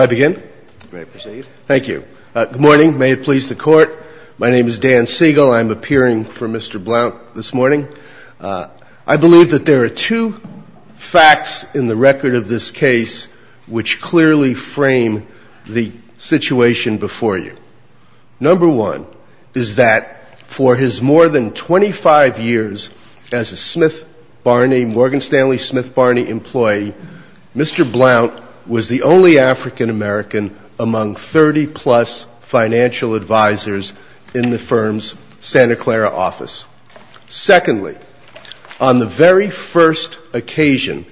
Good morning. May it please the Court. My name is Dan Siegel. I'm appearing for Mr. Blount this morning. I believe that there are two facts in the record of this case which clearly frame the situation before you. Number one is that for his more than 25 years as a Morgan Stanley Smith Barney employee, Mr. Blount was the only African American among 30-plus financial advisors in the firm's Santa Clara office. Secondly, on the very first occasion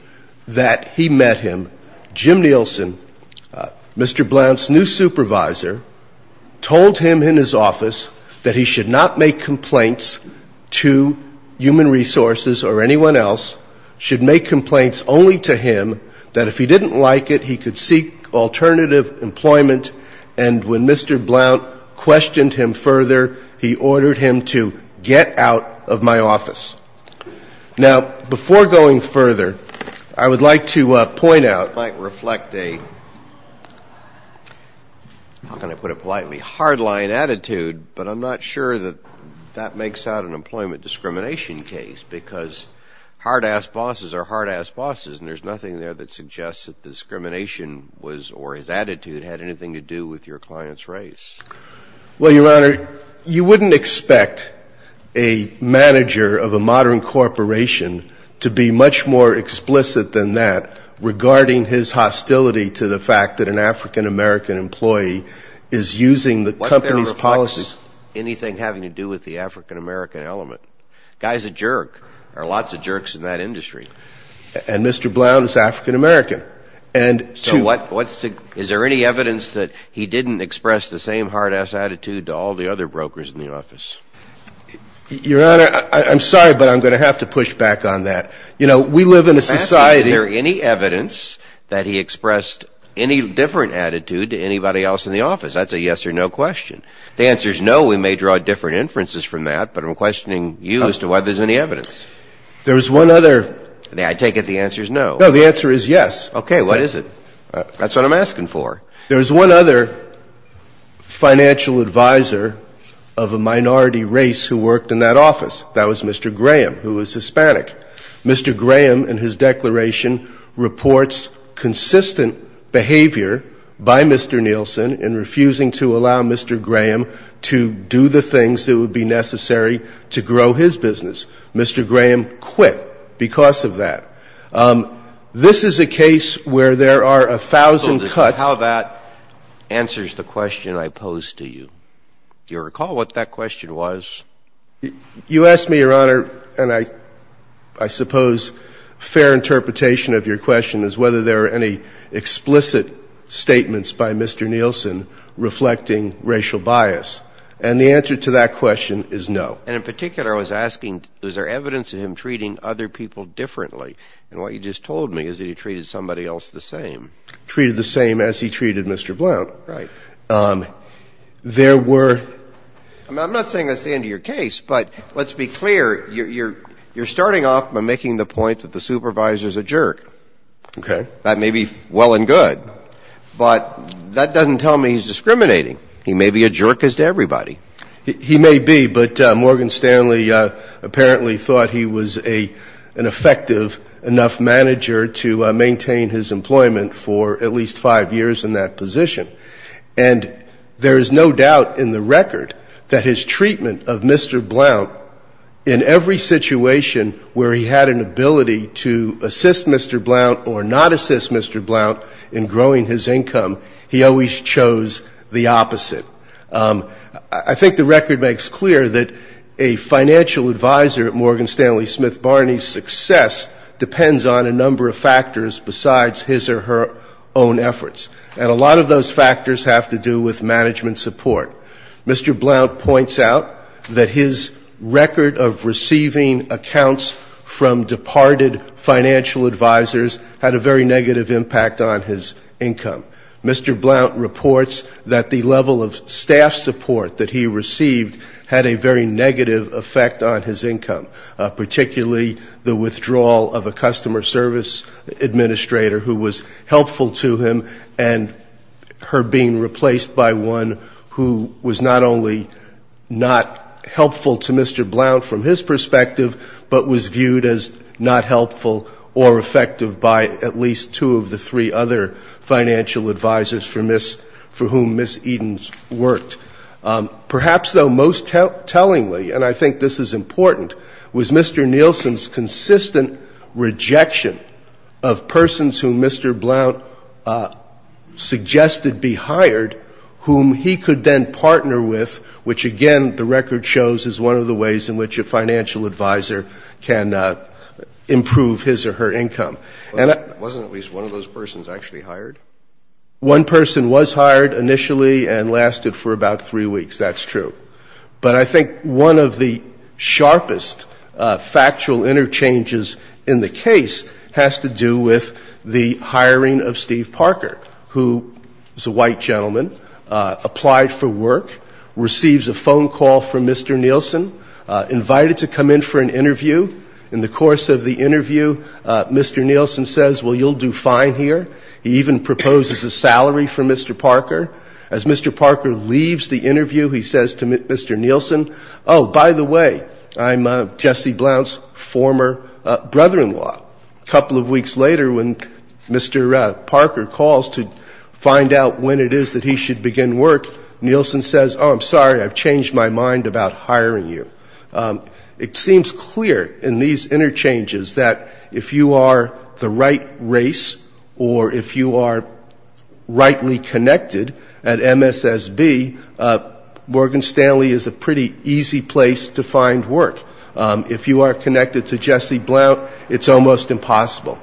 that he met him, Jim Nielsen, Mr. Blount's new supervisor, told him in his office that he should not make complaints to Human Resources or anyone else, should make complaints only to him, that if he didn't like it, he could seek alternative employment. And when Mr. Blount questioned him further, he I would like to point out, it might reflect a, how can I put it politely, hardline attitude, but I'm not sure that that makes out an employment discrimination case, because hard-ass bosses are hard-ass bosses, and there's nothing there that suggests that the discrimination was, or his attitude, had anything to do with your client's Well, Your Honor, you wouldn't expect a manager of a modern corporation to be much more explicit than that regarding his hostility to the fact that an African American employee is using the company's policies Wasn't there a reflex? Anything having to do with the African American element? Guy's a jerk. There are lots of jerks in that industry. And Mr. Blount is African American. And, too Is there any evidence that he didn't express the same hard-ass attitude to all the other brokers in the office? Your Honor, I'm sorry, but I'm going to have to push back on that. You know, we live in a society In fact, is there any evidence that he expressed any different attitude to anybody else in the office? That's a yes or no question. The answer is no. We may draw different inferences from that, but I'm questioning you as to whether there's any evidence There's one other I take it the answer is no No, the answer is yes Okay, what is it? That's what I'm asking for There's one other financial advisor of a minority race who worked in that office That was Mr. Graham, who was Hispanic Mr. Graham, in his declaration, reports consistent behavior by Mr. Nielsen in refusing to allow Mr. Graham to do the things that would be necessary to grow his business Mr. Graham quit because of that This is a case where there are a thousand cuts How that answers the question I posed to you. Do you recall what that question was? You asked me, Your Honor, and I suppose fair interpretation of your question is whether there are any explicit statements by Mr. Nielsen reflecting racial bias, and the answer to that question is no And in particular, I was asking, is there evidence of him treating other people differently? And what you just told me is that he treated somebody else the same Treated the same as he treated Mr. Blount Right There were I'm not saying that's the end of your case, but let's be clear, you're starting off by making the point that the supervisor's a jerk Okay That may be well and good, but that doesn't tell me he's discriminating He may be a jerk as to everybody He may be, but Morgan Stanley apparently thought he was an effective enough manager to maintain his employment for at least five years in that position And there is no doubt in the record that his treatment of Mr. Blount in every situation where he had an ability to assist Mr. Blount or not assist Mr. Blount in growing his income he always chose the opposite I think the record makes clear that a financial advisor at Morgan Stanley Smith Barney's success depends on a number of factors besides his or her own efforts And a lot of those factors have to do with management support Mr. Blount points out that his record of receiving accounts from departed financial advisors had a very negative impact on his income Mr. Blount reports that the level of staff support that he received had a very negative effect on his income particularly the withdrawal of a customer service administrator who was helpful to him and her being replaced by one who was not only not helpful to Mr. Blount from his perspective but was viewed as not helpful or effective by at least two of the three other financial advisors for whom Ms. Edens worked Perhaps though most tellingly, and I think this is important, was Mr. Nielsen's consistent rejection of persons whom Mr. Blount suggested be hired whom he could then partner with which again the record shows is one of the ways in which a financial advisor can improve his or her income Wasn't at least one of those persons actually hired? One person was hired initially and lasted for about three weeks, that's true But I think one of the sharpest factual interchanges in the case has to do with the hiring of Steve Parker who is a white gentleman, applied for work, receives a phone call from Mr. Nielsen, invited to come in for an interview In the course of the interview Mr. Nielsen says well you'll do fine here He even proposes a salary for Mr. Parker As Mr. Parker leaves the interview he says to Mr. Nielsen Oh by the way, I'm Jesse Blount's former brother-in-law A couple of weeks later when Mr. Parker calls to find out when it is that he should begin work Nielsen says oh I'm sorry I've changed my mind about hiring you It seems clear in these interchanges that if you are the right race or if you are rightly connected at MSSB Morgan Stanley is a pretty easy place to find work If you are connected to Jesse Blount it's almost impossible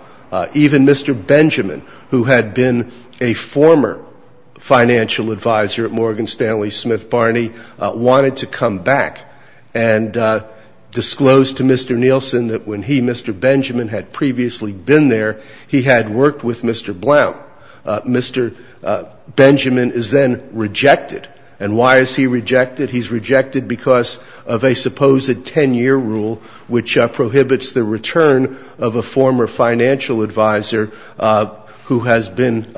Even Mr. Benjamin who had been a former financial advisor at Morgan Stanley Smith Barney wanted to come back and disclose to Mr. Nielsen that when he, Mr. Benjamin, had previously been there he had worked with Mr. Blount Mr. Benjamin is then rejected And why is he rejected? He's rejected because of a supposed 10-year rule which prohibits the return of a former financial advisor who has been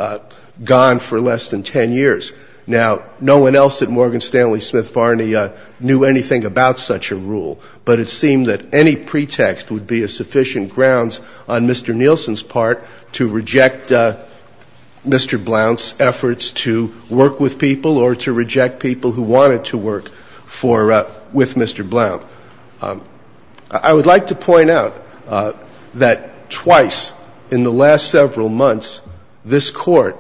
gone for less than 10 years Now no one else at Morgan Stanley Smith Barney knew anything about such a rule But it seemed that any pretext would be a sufficient grounds on Mr. Nielsen's part to reject Mr. Blount's efforts to work with people or to reject people who wanted to work with Mr. Blount I would like to point out that twice in the last several months this court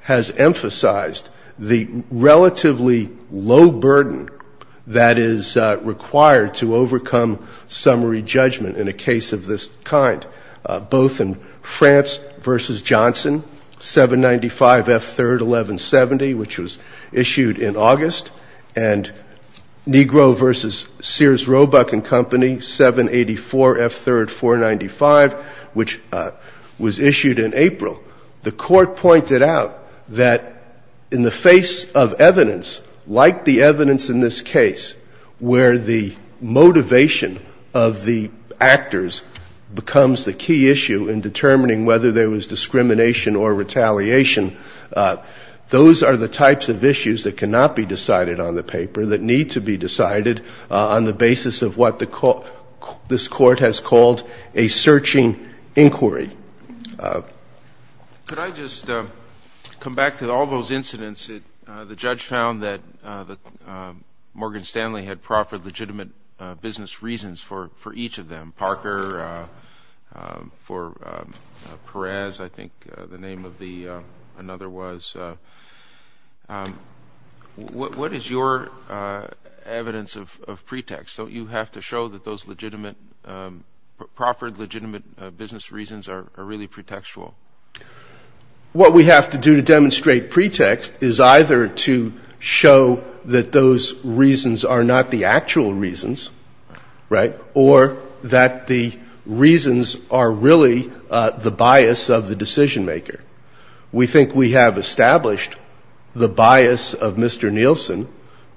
has emphasized the relatively low burden that is required to overcome summary judgment in a case of this kind Both in France v. Johnson 795 F. 3rd 1170 which was issued in August And Negro v. Sears Roebuck & Company 784 F. 3rd 495 which was issued in April The court pointed out that in the face of evidence like the evidence in this case where the motivation of the actors becomes the key issue in determining whether there was discrimination or retaliation those are the types of issues that cannot be decided on the paper that need to be decided on the basis of what this court has called a searching inquiry Could I just come back to all those incidents The judge found that Morgan Stanley had proffered legitimate business reasons for each of them Parker for Perez I think the name of another was What is your evidence of pretext? Don't you have to show that those legitimate, proffered legitimate business reasons are really pretextual? What we have to do to demonstrate pretext is either to show that those reasons are not the actual reasons or that the reasons are really the bias of the decision maker We think we have established the bias of Mr. Nielsen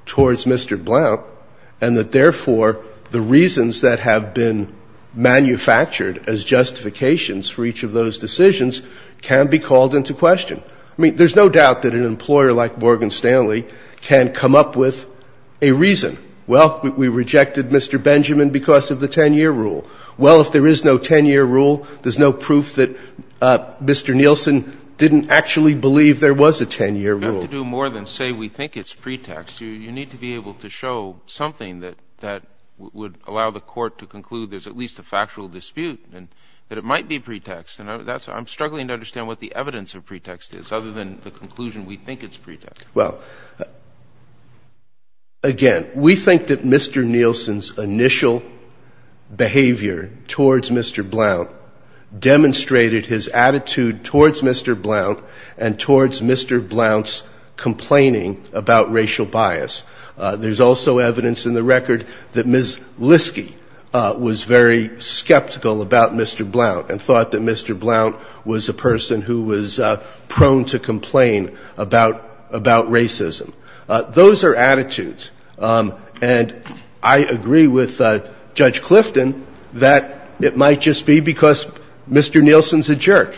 towards Mr. Blount and that therefore the reasons that have been manufactured as justifications for each of those decisions can be called into question There's no doubt that an employer like Morgan Stanley can come up with a reason Well, we rejected Mr. Benjamin because of the 10-year rule Well, if there is no 10-year rule, there's no proof that Mr. Nielsen didn't actually believe there was a 10-year rule You don't have to do more than say we think it's pretext You need to be able to show something that would allow the court to conclude there's at least a factual dispute and that it might be pretext I'm struggling to understand what the evidence of pretext is other than the conclusion we think it's pretext Well, again, we think that Mr. Nielsen's initial behavior towards Mr. Blount demonstrated his attitude towards Mr. Blount and towards Mr. Blount's complaining about racial bias There's also evidence in the record that Ms. Liske was very skeptical about Mr. Blount and thought that Mr. Blount was a person who was prone to complain about racism Those are attitudes And I agree with Judge Clifton that it might just be because Mr. Nielsen's a jerk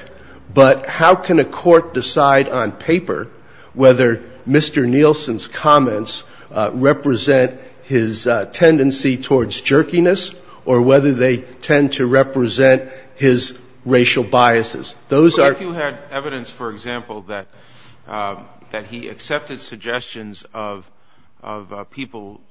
But how can a court decide on paper whether Mr. Nielsen's comments represent his tendency towards jerkiness or whether they tend to represent his racial biases? If you had evidence, for example, that he accepted suggestions of people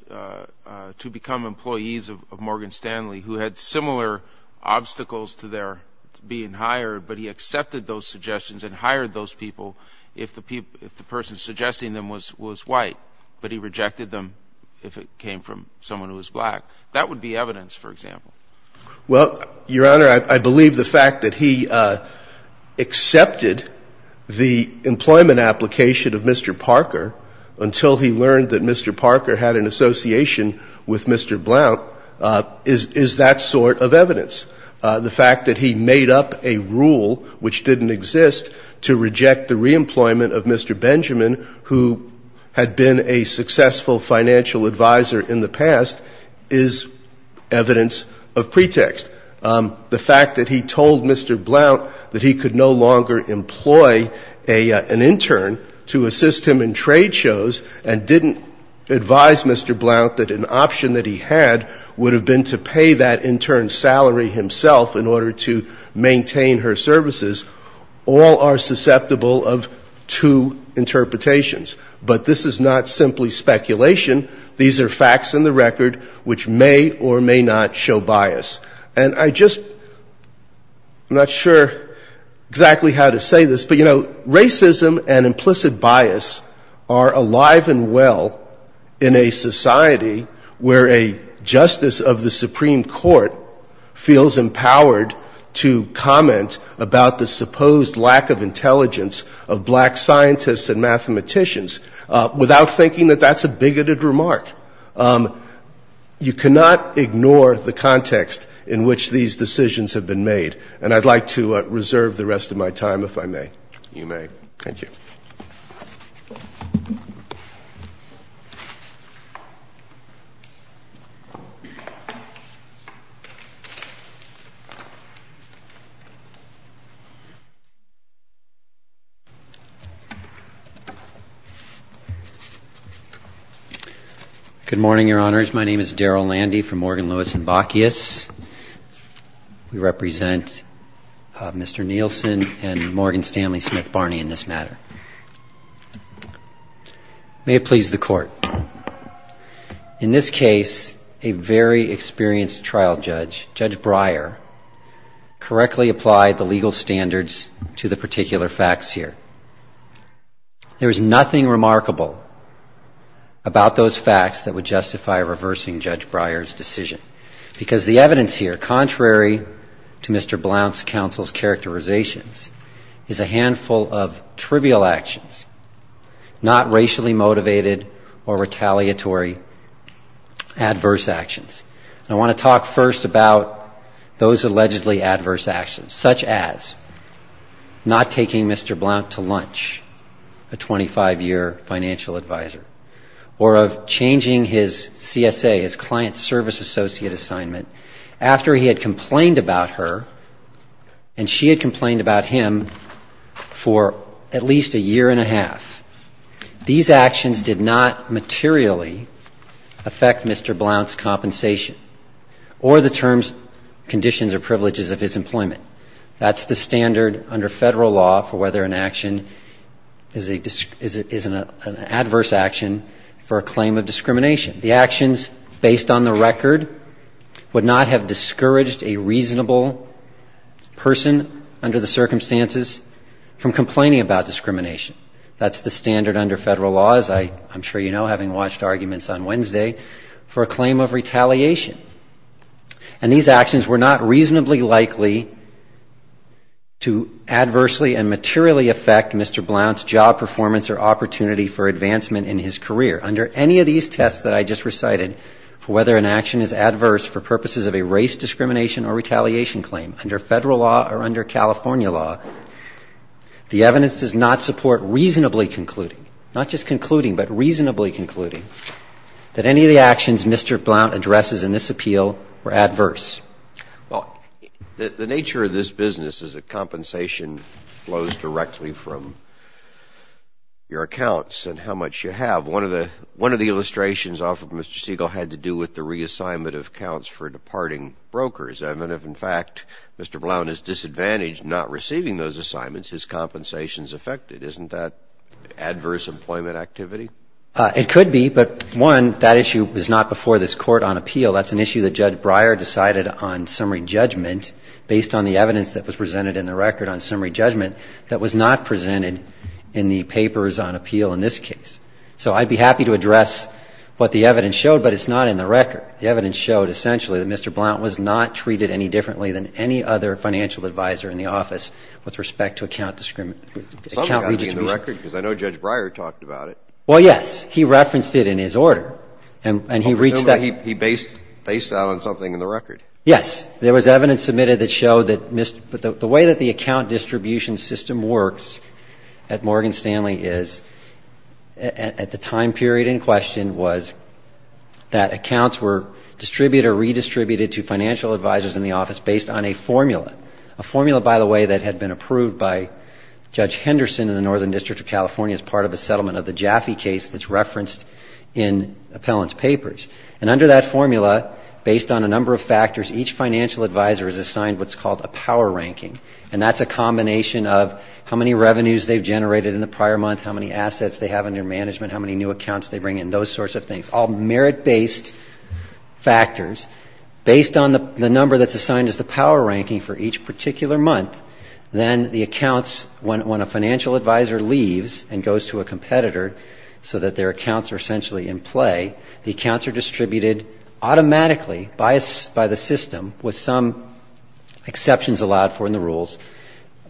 to become employees of Morgan Stanley who had similar obstacles to their being hired but he accepted those suggestions and hired those people if the person suggesting them was white but he rejected them if it came from someone who was black That would be evidence, for example Well, Your Honor, I believe the fact that he accepted the employment application of Mr. Parker until he learned that Mr. Parker had an association with Mr. Blount is that sort of evidence The fact that he made up a rule which didn't exist to reject the reemployment of Mr. Benjamin who had been a successful financial advisor in the past is evidence of pretext The fact that he told Mr. Blount that he could no longer employ an intern to assist him in trade shows and didn't advise Mr. Blount that an option that he had would have been to pay that intern's salary himself in order to maintain her services All are susceptible of two interpretations But this is not simply speculation These are facts in the record which may or may not show bias And I just... I'm not sure exactly how to say this But, you know, racism and implicit bias are alive and well in a society where a justice of the Supreme Court feels empowered to comment about the supposed lack of intelligence of black scientists and mathematicians without thinking that that's a bigoted remark You cannot ignore the context in which these decisions have been made And I'd like to reserve the rest of my time, if I may You may Thank you Good morning, Your Honors My name is Daryl Landy from Morgan, Lewis & Bacchius We represent Mr. Nielsen and Morgan Stanley Smith Barney in this matter May it please the Court In this case, a very experienced trial judge, Judge Breyer, correctly applied the legal standards to the particular facts here There is nothing remarkable about those facts that would justify reversing Judge Breyer's decision Because the evidence here, contrary to Mr. Blount's counsel's characterizations, is a handful of trivial actions not racially motivated or retaliatory, adverse actions And I want to talk first about those allegedly adverse actions such as not taking Mr. Blount to lunch, a 25-year financial advisor or of changing his CSA, his Client Service Associate assignment, after he had complained about her and she had complained about him for at least a year and a half These actions did not materially affect Mr. Blount's compensation or the terms, conditions, or privileges of his employment That's the standard under Federal law for whether an action is an adverse action for a claim of discrimination The actions, based on the record, would not have discouraged a reasonable person under the circumstances from complaining about discrimination That's the standard under Federal law, as I'm sure you know, having watched arguments on Wednesday, for a claim of retaliation And these actions were not reasonably likely to adversely and materially affect Mr. Blount's job performance or opportunity for advancement in his career Under any of these tests that I just recited, for whether an action is adverse for purposes of a race discrimination or retaliation claim under Federal law or under California law, the evidence does not support reasonably concluding not just concluding, but reasonably concluding that any of the actions Mr. Blount addresses in this appeal were adverse Well, the nature of this business is that compensation flows directly from your accounts and how much you have One of the illustrations offered by Mr. Siegel had to do with the reassignment of accounts for departing brokers And if, in fact, Mr. Blount is disadvantaged not receiving those assignments, his compensation is affected Isn't that adverse employment activity? It could be, but one, that issue was not before this Court on appeal That's an issue that Judge Breyer decided on summary judgment based on the evidence that was presented in the record on summary judgment that was not presented in the papers on appeal in this case So I'd be happy to address what the evidence showed, but it's not in the record The evidence showed, essentially, that Mr. Blount was not treated any differently than any other financial advisor in the office with respect to account discrimination Something had to be in the record, because I know Judge Breyer talked about it Well, yes. He referenced it in his order, and he reached that Well, presumably he based that on something in the record Yes. There was evidence submitted that showed that the way that the account distribution system works at Morgan Stanley is at the time period in question was that accounts were distributed or redistributed to financial advisors in the office based on a formula A formula, by the way, that had been approved by Judge Henderson in the Northern District of California as part of a settlement of the Jaffe case that's referenced in appellant's papers And under that formula, based on a number of factors, each financial advisor is assigned what's called a power ranking And that's a combination of how many revenues they've generated in the prior month, how many assets they have under management, how many new accounts they bring in, those sorts of things All merit-based factors. Based on the number that's assigned as the power ranking for each particular month, then the accounts, when a financial advisor leaves and goes to a competitor so that their accounts are essentially in play, the accounts are distributed automatically by the system with some exceptions allowed for in the rules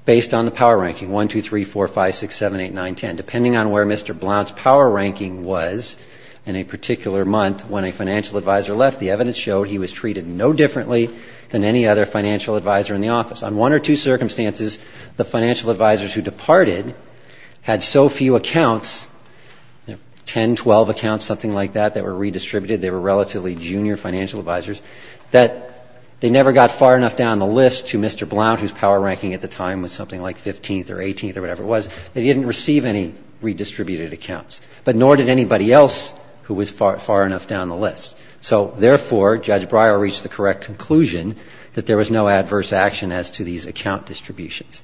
based on the power ranking, 1, 2, 3, 4, 5, 6, 7, 8, 9, 10 Depending on where Mr. Blount's power ranking was in a particular month, when a financial advisor left, the evidence showed he was treated no differently than any other financial advisor in the office On one or two circumstances, the financial advisors who departed had so few accounts, 10, 12 accounts, something like that, that were redistributed, they were relatively junior financial advisors, that they never got far enough down the list to Mr. Blount, whose power ranking at the time was something like 15th or 18th or whatever it was They didn't receive any redistributed accounts, but nor did anybody else who was far enough down the list So therefore, Judge Breyer reached the correct conclusion that there was no adverse action as to these account distributions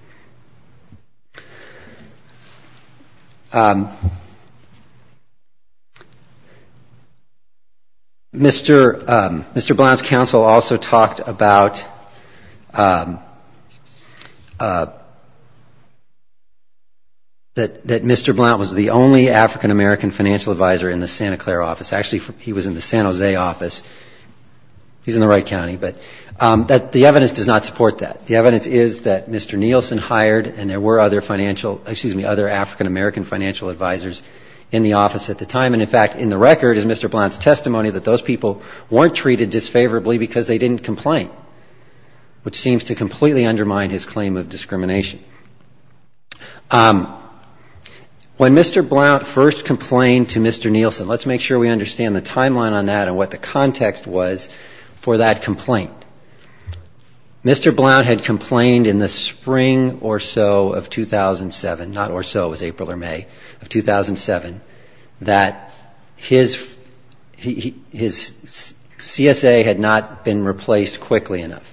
Mr. Blount's counsel also talked about that Mr. Blount was the only African-American financial advisor in the Santa Clara office Actually, he was in the San Jose office, he's in the Wright County, but the evidence does not support that The evidence is that Mr. Nielsen hired, and there were other financial, excuse me, other African-American financial advisors in the office at the time And in fact, in the record is Mr. Blount's testimony that those people weren't treated disfavorably because they didn't complain, which seems to completely undermine his claim of discrimination When Mr. Blount first complained to Mr. Nielsen, let's make sure we understand the timeline on that and what the context was for that complaint Mr. Blount had complained in the spring or so of 2007, not or so, it was April or May of 2007, that his CSA had not been replaced quickly enough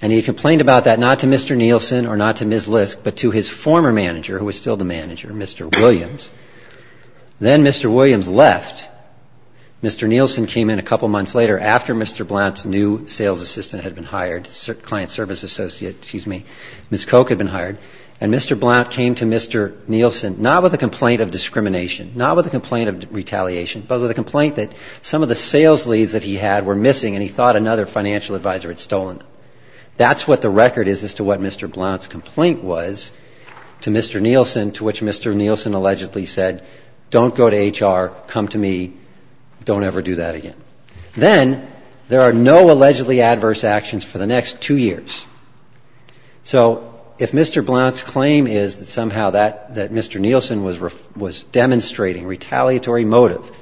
And he complained about that not to Mr. Nielsen or not to Ms. Lisk, but to his former manager, who was still the manager, Mr. Williams Then Mr. Williams left, Mr. Nielsen came in a couple months later after Mr. Blount's new sales assistant had been hired, client service associate, excuse me, Ms. Koch had been hired, and Mr. Blount came to Mr. Nielsen, not with a complaint of discrimination, not with a complaint of retaliation, but with a complaint that some of the sales leads that he had were missing and he thought another financial advisor had stolen them That's what the record is as to what Mr. Blount's complaint was to Mr. Nielsen, to which Mr. Nielsen allegedly said, don't go to HR, come to me, don't ever do that again Then, there are no allegedly adverse actions for the next two years. So, if Mr. Blount's claim is that somehow that Mr. Nielsen was demonstrating retaliatory motive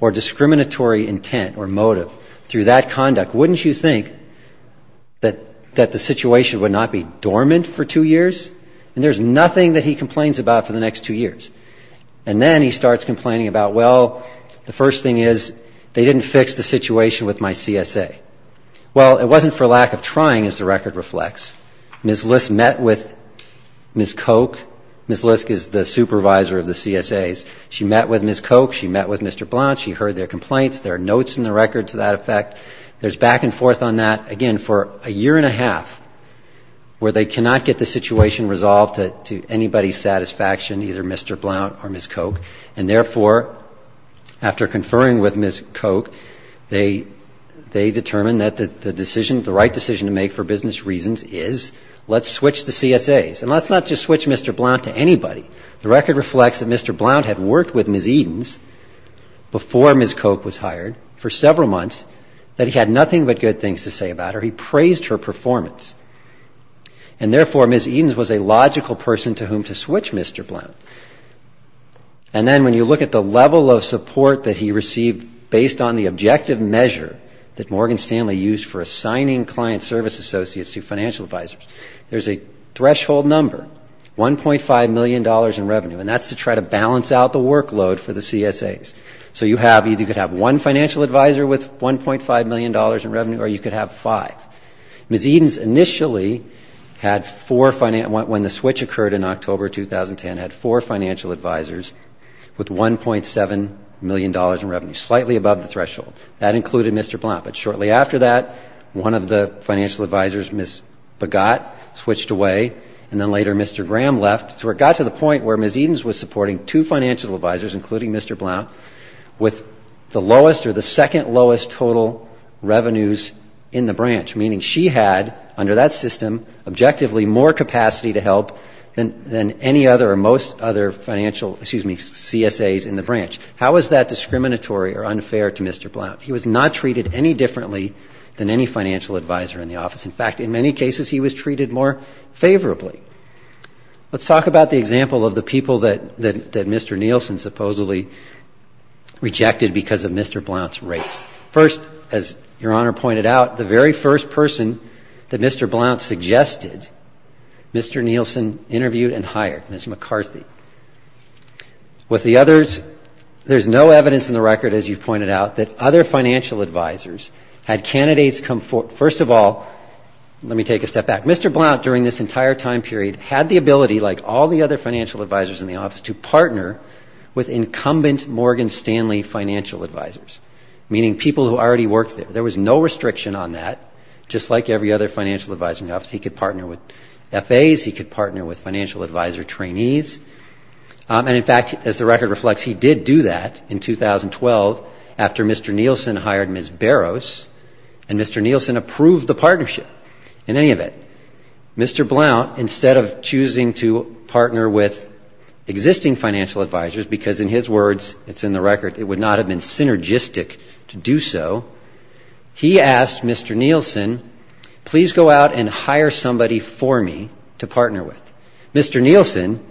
or discriminatory intent or motive through that conduct, wouldn't you think that that's not a fair claim? That the situation would not be dormant for two years? And there's nothing that he complains about for the next two years. And then he starts complaining about, well, the first thing is, they didn't fix the situation with my CSA. Well, it wasn't for lack of trying, as the record reflects. Ms. Lisk met with Ms. Koch. Ms. Lisk is the supervisor of the CSAs. She met with Ms. Koch, she met with Mr. Blount, she heard their complaints, there are notes in the record to that effect. There's back and forth on that, again, for a year and a half where they cannot get the situation resolved to anybody's satisfaction, either Mr. Blount or Ms. Koch. And therefore, after conferring with Ms. Koch, they determine that the decision, the right decision to make for business reasons is, let's switch to CSAs. And let's not just switch Mr. Blount to anybody. The record reflects that Mr. Blount had worked with Ms. Edens before Ms. Koch was hired for several months, and he had not worked with Ms. Koch for several months. That he had nothing but good things to say about her. He praised her performance. And therefore, Ms. Edens was a logical person to whom to switch Mr. Blount. And then when you look at the level of support that he received based on the objective measure that Morgan Stanley used for assigning client service associates to financial advisors, there's a threshold number, $1.5 million in revenue, and that's to try to balance out the workload for the CSAs. So you have, you could have one financial advisor with $1.5 million in revenue, or you could have five. Ms. Edens initially had four, when the switch occurred in October 2010, had four financial advisors with $1.7 million in revenue, slightly above the threshold. That included Mr. Blount. But shortly after that, one of the financial advisors, Ms. Begott, switched away, and then later Mr. Graham left. So it got to the point where Ms. Edens was supporting two financial advisors, including Mr. Blount, with the lowest or the second lowest total revenues in the branch. Meaning she had, under that system, objectively more capacity to help than any other or most other financial, excuse me, CSAs in the branch. How is that discriminatory or unfair to Mr. Blount? He was not treated any differently than any financial advisor in the office. In fact, in many cases, he was treated more favorably. Let's talk about the example of the people that Mr. Nielsen supposedly rejected because of Mr. Blount's race. First, as Your Honor pointed out, the very first person that Mr. Blount suggested, Mr. Nielsen interviewed and hired, Ms. McCarthy. With the others, there's no evidence in the record, as you've pointed out, that other financial advisors had candidates come, first of all, let me take a step back. Mr. Blount, during this entire time period, had the ability, like all the other financial advisors in the office, to partner with incumbent Morgan Stanley financial advisors, meaning people who already worked there. There was no restriction on that. Just like every other financial advisor in the office, he could partner with FAs, he could partner with financial advisor trainees, and in fact, as the record reflects, he did do that in 2012 after Mr. Nielsen hired Ms. Barrows, and Mr. Nielsen approved the partnership. In any event, Mr. Blount, instead of choosing to partner with existing financial advisors, because in his words, it's in the record, it would not have been synergistic to do so, he asked Mr. Nielsen, please go out and hire somebody for me to partner with. Mr. Nielsen,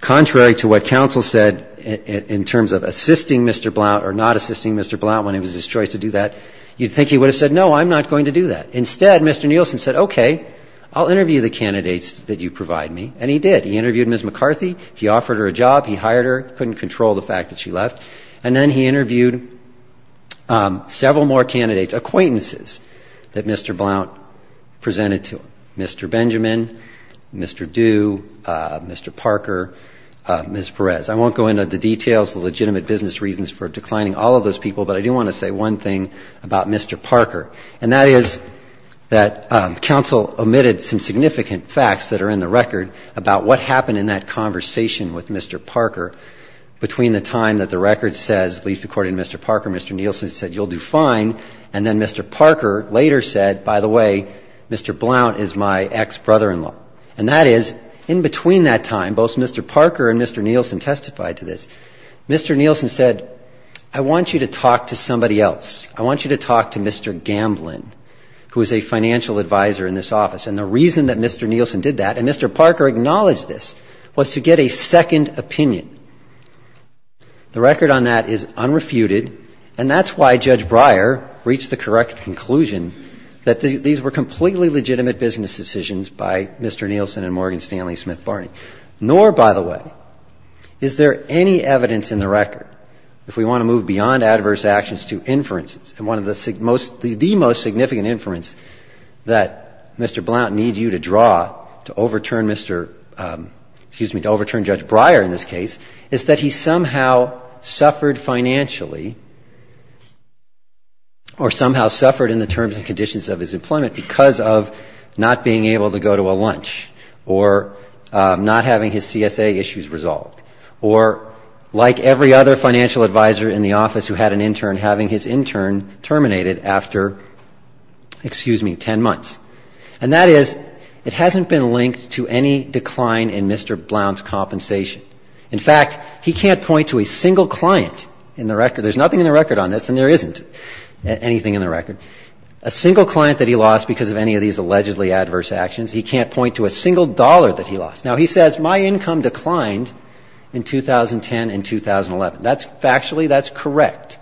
contrary to what counsel said in terms of assisting Mr. Blount or not assisting Mr. Blount when it was his choice to do that, you'd think he would have said, no, I'm not going to do that. Instead, Mr. Nielsen said, okay, I'll interview the candidates that you provide me, and he did. He interviewed Ms. McCarthy, he offered her a job, he hired her, couldn't control the fact that she left, and then he interviewed several more candidates, acquaintances, that Mr. Blount presented to him. Mr. Benjamin, Mr. Due, Mr. Parker, Ms. Perez. I won't go into the details, the legitimate business reasons for declining all of those people, but I do want to say one thing about Mr. Parker, and that is that counsel omitted some significant facts that are in the record about what happened in that conversation with Mr. Parker between the time that the record says, at least according to Mr. Parker, Mr. Nielsen said, you'll do fine, and then Mr. Parker later said, by the way, Mr. Blount is my ex-brother-in-law. And that is, in between that time, both Mr. Parker and Mr. Nielsen testified to this. Mr. Nielsen said, I want you to talk to somebody else. I want you to talk to Mr. Gamblin, who is a financial advisor in this office. And the reason that Mr. Nielsen did that, and Mr. Parker acknowledged this, was to get a second opinion. The record on that is unrefuted, and that's why Judge Breyer reached the correct conclusion that these were completely legitimate business decisions by Mr. Blount. By the way, is there any evidence in the record, if we want to move beyond adverse actions to inferences, and one of the most significant inference that Mr. Blount needs you to draw to overturn Mr. ‑‑ excuse me, to overturn Judge Breyer in this case, is that he somehow suffered financially or somehow suffered in the terms and conditions of his employment because of not being able to go to a lunch or not having his CSA issues resolved or, like every other financial advisor in the office who had an intern, having his intern terminated after, excuse me, 10 months. And that is, it hasn't been linked to any decline in Mr. Blount's compensation. In fact, he can't point to a single client in the record. There's nothing in the record on this, and there isn't anything in the record. A single client that he lost because of any of these allegedly adverse actions, he can't point to a single client in the record. He can't point to a single dollar that he lost. Now, he says my income declined in 2010 and 2011. That's factually, that's correct.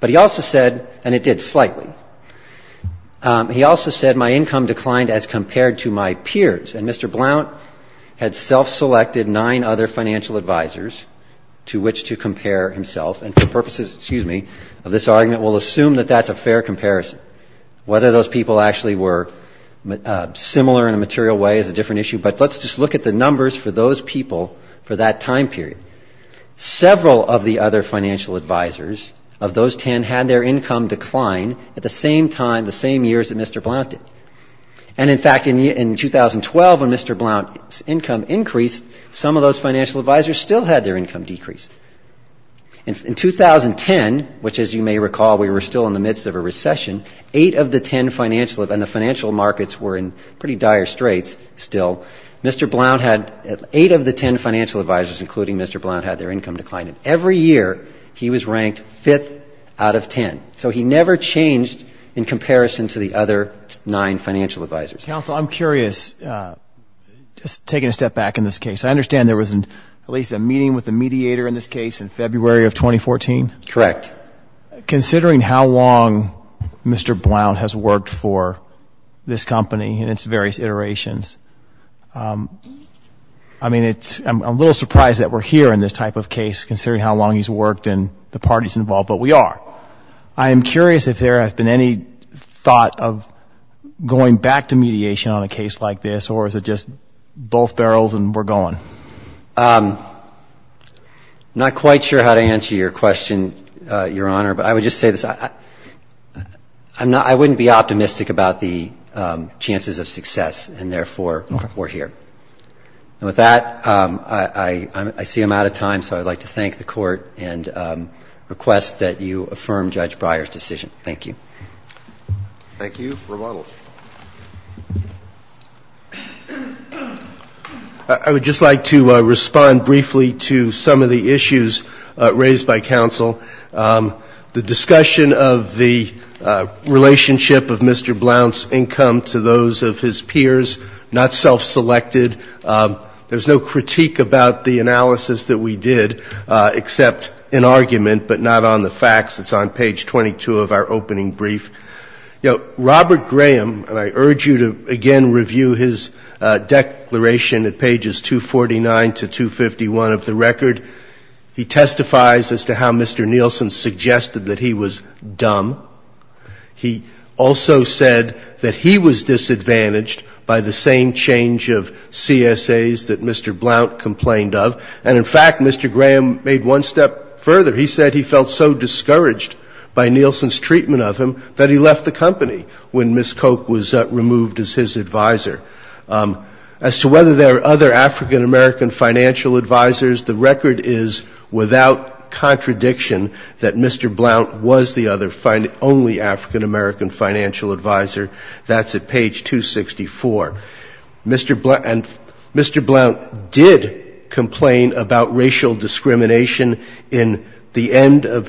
But he also said, and it did slightly, he also said my income declined as compared to my peers. And Mr. Blount had self‑selected nine other financial advisors to which to compare himself. And for purposes, excuse me, of this argument, we'll assume that that's a fair comparison. Whether those people actually were similar in a material way is a different issue. But let's just look at the numbers for those people for that time period. Several of the other financial advisors of those ten had their income decline at the same time, the same years that Mr. Blount did. And in fact, in 2012, when Mr. Blount's income increased, some of those financial advisors still had their income decreased. In 2010, which as you may recall, we were still in the midst of a recession, eight of the ten financial, and the financial markets were in pretty dire straits still, had their income declined. Every year, he was ranked fifth out of ten. So he never changed in comparison to the other nine financial advisors. Counsel, I'm curious, just taking a step back in this case, I understand there was at least a meeting with the mediator in this case in February of 2014? Correct. Considering how long Mr. Blount has worked for this company in its various iterations, I mean, it's, I'm a little surprised that we're here in this type of case, considering how long he's worked and the parties involved, but we are. I am curious if there has been any thought of going back to mediation on a case like this, or is it just both barrels and we're going? I'm not quite sure how to answer your question, Your Honor, but I would just say this. I'm not, I wouldn't be optimistic about the chances of success, and therefore, we're here. And with that, I see I'm out of time, so I would like to thank the Court and request that you affirm Judge Breyer's decision. Thank you. Thank you. Rebuttal. I would just like to respond briefly to some of the issues raised by counsel. The discussion of the relationship of Mr. Blount's income to those of his peers, not self-selected. There's no critique about the analysis that we did, except an argument, but not the facts. It's on page 22 of our opening brief. You know, Robert Graham, and I urge you to again review his declaration at pages 249 to 251 of the record. He testifies as to how Mr. Nielsen suggested that he was dumb. He also said that he was disadvantaged by the same change of CSAs that Mr. Blount complained of. And in fact, Mr. Graham made one step further. He said he felt so discouraged by Nielsen's treatment of him that he left the company when Ms. Koch was removed as his advisor. As to whether there are other African-American financial advisors, the record is without contradiction that Mr. Blount was the only African-American financial advisor. That's at page 264. Mr. Blount did complain about racial discrimination in the end of,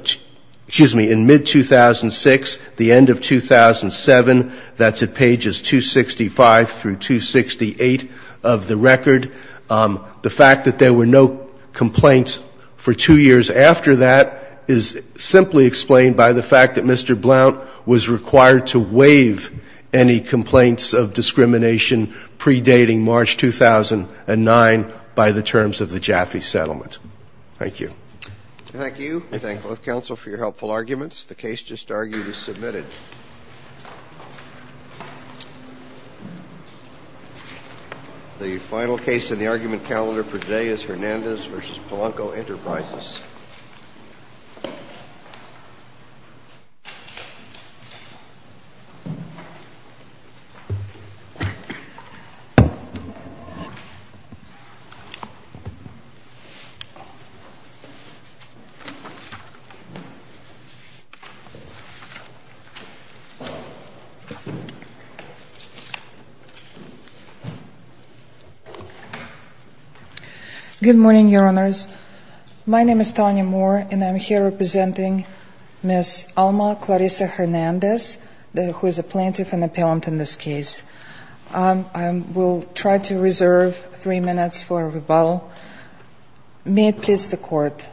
excuse me, in mid-2006, the end of 2007. That's at pages 265 through 268 of the record. The fact that there were no complaints for two years after that is simply explained by the fact that Mr. Blount did not want to waive any complaints of discrimination predating March 2009 by the terms of the Jaffe settlement. Thank you. Thank you. We thank both counsel for your helpful arguments. The case just argued is submitted. The final case in the argument calendar for today is Hernandez v. Polanco Enterprises. Good morning, Your Honors. My name is Tanya Moore and I'm here representing Ms. Alma Clarissa Hernandez, the host of the hearing, who is a plaintiff and appellant in this case. I will try to reserve three minutes for rebuttal. May it please the court.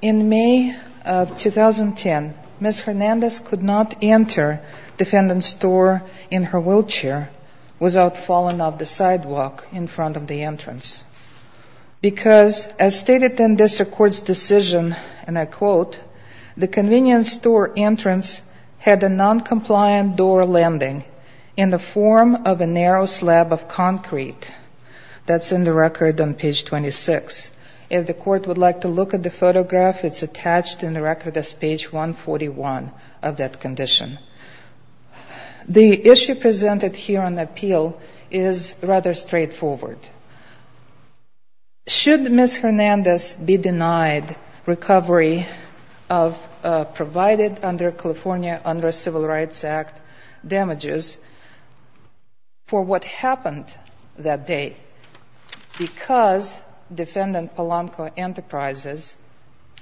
In May of 2010, Ms. Hernandez could not enter defendant's door in her wheelchair without falling off the sidewalk in front of the entrance, because as stated in this court's decision, and I quote, the convenience store entrance had a noncompliant door landing in the form of a narrow slab of concrete. That's in the record on page 26. If the court would like to look at the photograph, it's attached in the record as page 141 of that condition. The issue presented here on appeal is rather straightforward. Should Ms. Hernandez be denied recovery provided under the Civil Rights Act damages for what happened that day, because defendant Polanco Enterprises,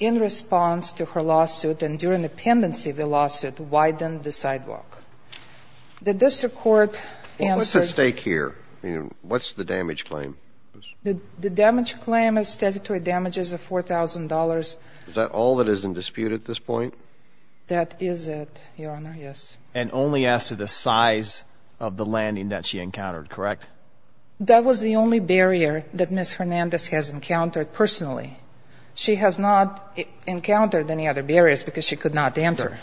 in response to her lawsuit and during the pendency of the lawsuit, widened the sidewalk. The district court answered... What's at stake here? I mean, what's the damage claim? The damage claim is statutory damages of $4,000. Is that all that is in dispute at this point? That is it, Your Honor, yes. And only as to the size of the landing that she encountered, correct? That was the only barrier that Ms. Hernandez has encountered personally. She has not encountered any other barriers because she could not enter.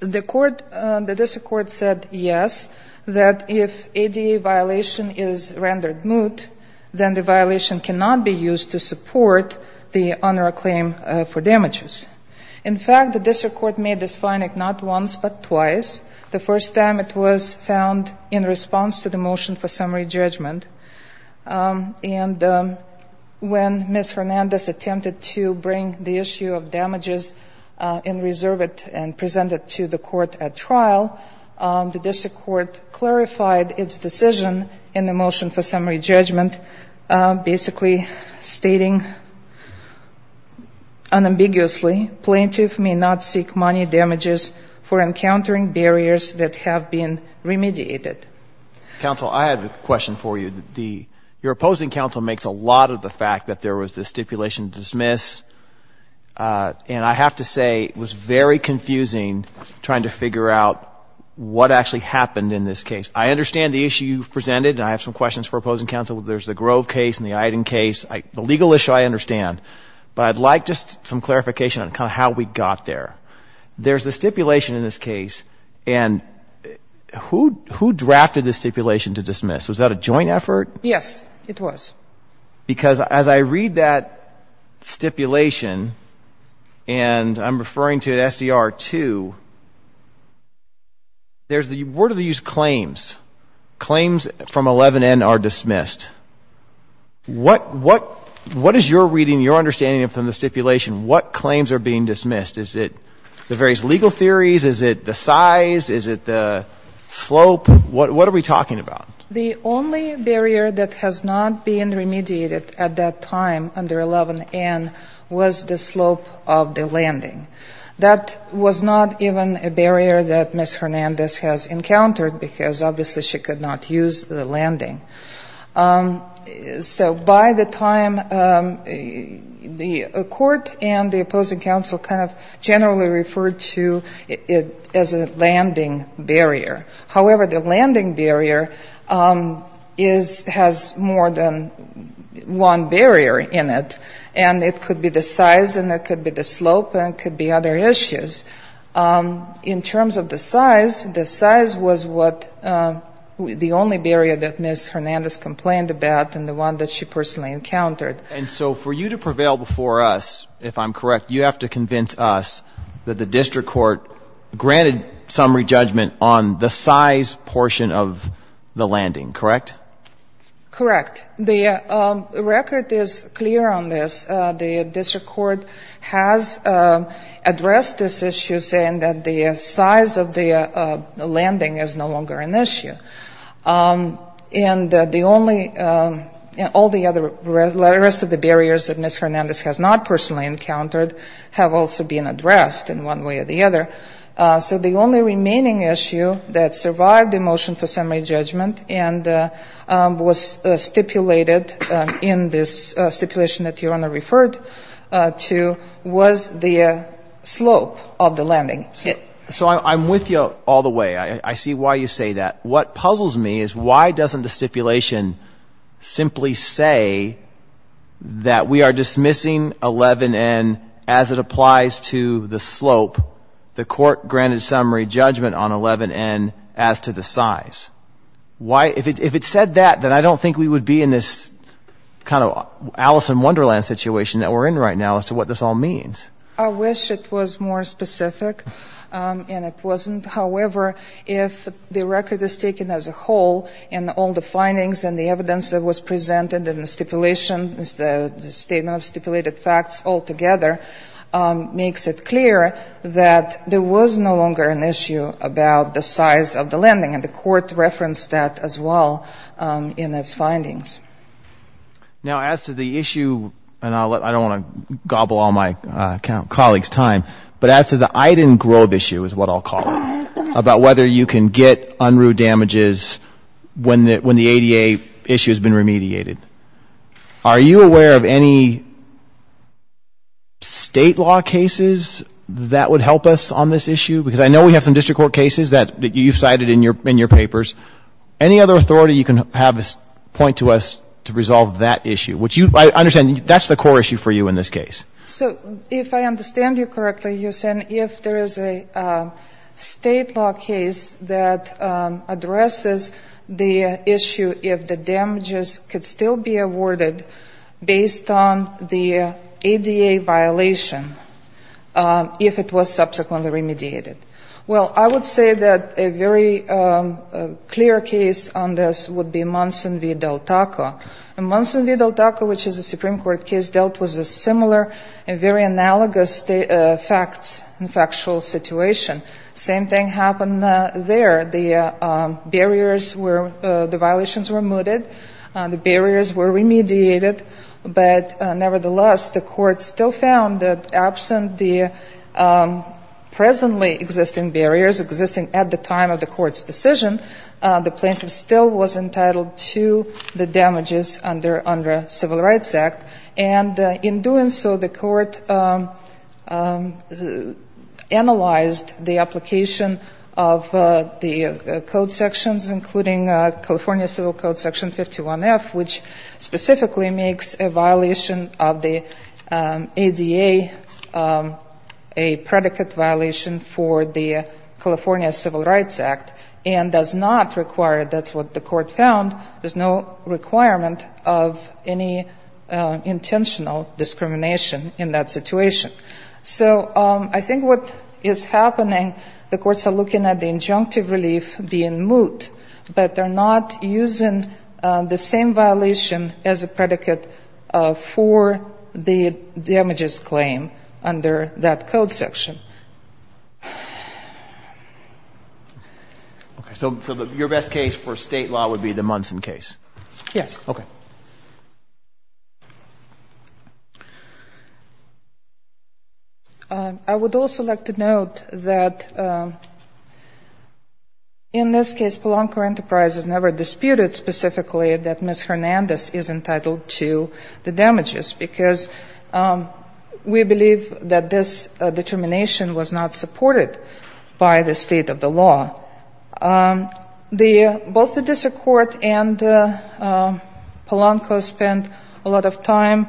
The court, the district court said yes, that if ADA violation is rendered moot, then the violation cannot be used to support the honor of claim for damages. In fact, the district court made this finding not once, but twice. The first time it was found in response to the motion for summary judgment. And when Ms. Hernandez attempted to bring the issue of damages in reserve and present it to the court at trial, the district court clarified its decision in the motion for summary judgment, basically stating that it was not a violation. Unambiguously, plaintiff may not seek money damages for encountering barriers that have been remediated. Counsel, I have a question for you. Your opposing counsel makes a lot of the fact that there was this stipulation to dismiss, and I have to say, it was very confusing trying to figure out what actually happened in this case. I understand the issue you've presented, and I have some questions for opposing counsel. There's the Grove case and the Iden case. The legal issue I understand, but I'd like just some clarification on kind of how we got there. There's the stipulation in this case, and who drafted the stipulation to dismiss? Was that a joint effort? Yes, it was. Because as I read that stipulation, and I'm referring to SDR 2, where do they use claims? Claims from 11N are dismissed. What is your reading, your understanding from the stipulation, what claims are being dismissed? Is it the various legal theories? Is it the size? Is it the slope? What are we talking about? The only barrier that has not been remediated at that time under 11N was the slope of the landing. That was not even a barrier that Ms. Hernandez has encountered, because obviously she could not use the landing. So by the time the court and the opposing counsel kind of generally referred to it as a landing barrier. However, the landing barrier is, has more than one barrier in it, and it could be the size and it could be the slope and it could be other issues. In terms of the size, the size was what the only barrier that Ms. Hernandez encountered. The only barrier that Ms. Hernandez complained about and the one that she personally encountered. And so for you to prevail before us, if I'm correct, you have to convince us that the district court granted summary judgment on the size portion of the landing, correct? Correct. The record is clear on this. The district court has addressed this issue, saying that the size of the landing is no longer an issue. And that the only, all the other, the rest of the barriers that Ms. Hernandez has not personally encountered have also been addressed in one way or the other. So the only remaining issue that survived the motion for summary judgment and was stipulated in this stipulation that Your Honor referred to was the slope of the landing. So I'm with you all the way. I see why you say that. Why does this stipulation simply say that we are dismissing 11N as it applies to the slope, the court granted summary judgment on 11N as to the size? Why, if it said that, then I don't think we would be in this kind of Alice in Wonderland situation that we're in right now as to what this all means. I wish it was more specific, and it wasn't. However, if the record is taken as a whole, and all the findings and the evidence that was presented in the stipulation, the statement of stipulated facts altogether, makes it clear that there was no longer an issue about the size of the landing, and the court referenced that as well in its findings. Now, as to the issue, and I don't want to gobble all my colleagues' time, but as to the Iden Grove issue is what I'll call it. It's about whether you can get unruh damages when the ADA issue has been remediated. Are you aware of any state law cases that would help us on this issue? Because I know we have some district court cases that you've cited in your papers. Any other authority you can have point to us to resolve that issue, which I understand that's the core issue for you in this case. So if I understand you correctly, you're saying if there is a state law case that addresses the issue if the damages could still be awarded based on the ADA violation, if it was subsequently remediated. Well, I would say that a very clear case on this would be Monson v. Del Taco. And Monson v. Del Taco, which is a Supreme Court case, dealt with a similar and very analogous facts and factual situation. Same thing happened there. The violations were mooted, the barriers were remediated, but nevertheless the court still found that absent the presently existing barriers existing at the time of the court's decision, the plaintiff still was entitled to the damages under Civil Rights Act. And in doing so, the court analyzed the application of the code sections, including California Civil Code Section 51F, which specifically makes a violation of the ADA a predicate violation for the California Civil Rights Act and does not apply to the ADA. It does not require, that's what the court found, there's no requirement of any intentional discrimination in that situation. So I think what is happening, the courts are looking at the injunctive relief being moot, but they're not using the same violation as a predicate for the damages claim under that code section. So your best case for State law would be the Monson case? Yes. I would also like to note that in this case, Polanco Enterprises never disputed specifically that Ms. Hernandez is entitled to the damages, because we believe that this determination was not supported by the state of the law. Both the district court and Polanco spent a lot of time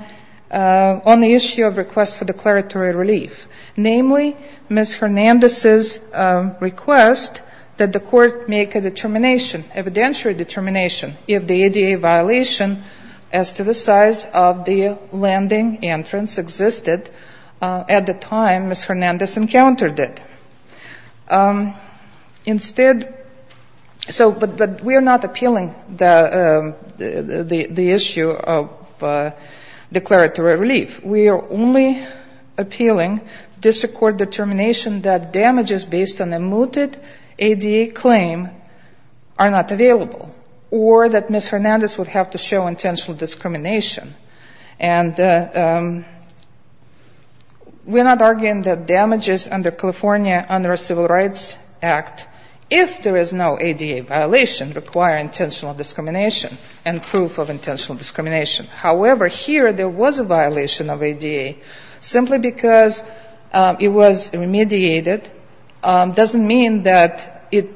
on the issue of request for declaratory relief. Namely, Ms. Hernandez's request that the court make a determination, evidentiary determination, if the ADA violation as to the size of the landing entrance existed at the time Ms. Hernandez encountered it. Instead, so, but we are not appealing the issue of declaratory relief. We are only appealing district court determination that damages based on a mooted ADA claim are not available, or that Ms. Hernandez would have to show intentional discrimination. And we're not arguing that damages under California under a Civil Rights Act, if there is no ADA violation, require intentional discrimination and proof of intentional discrimination. However, here there was a violation of ADA. Simply because it was remediated doesn't mean that it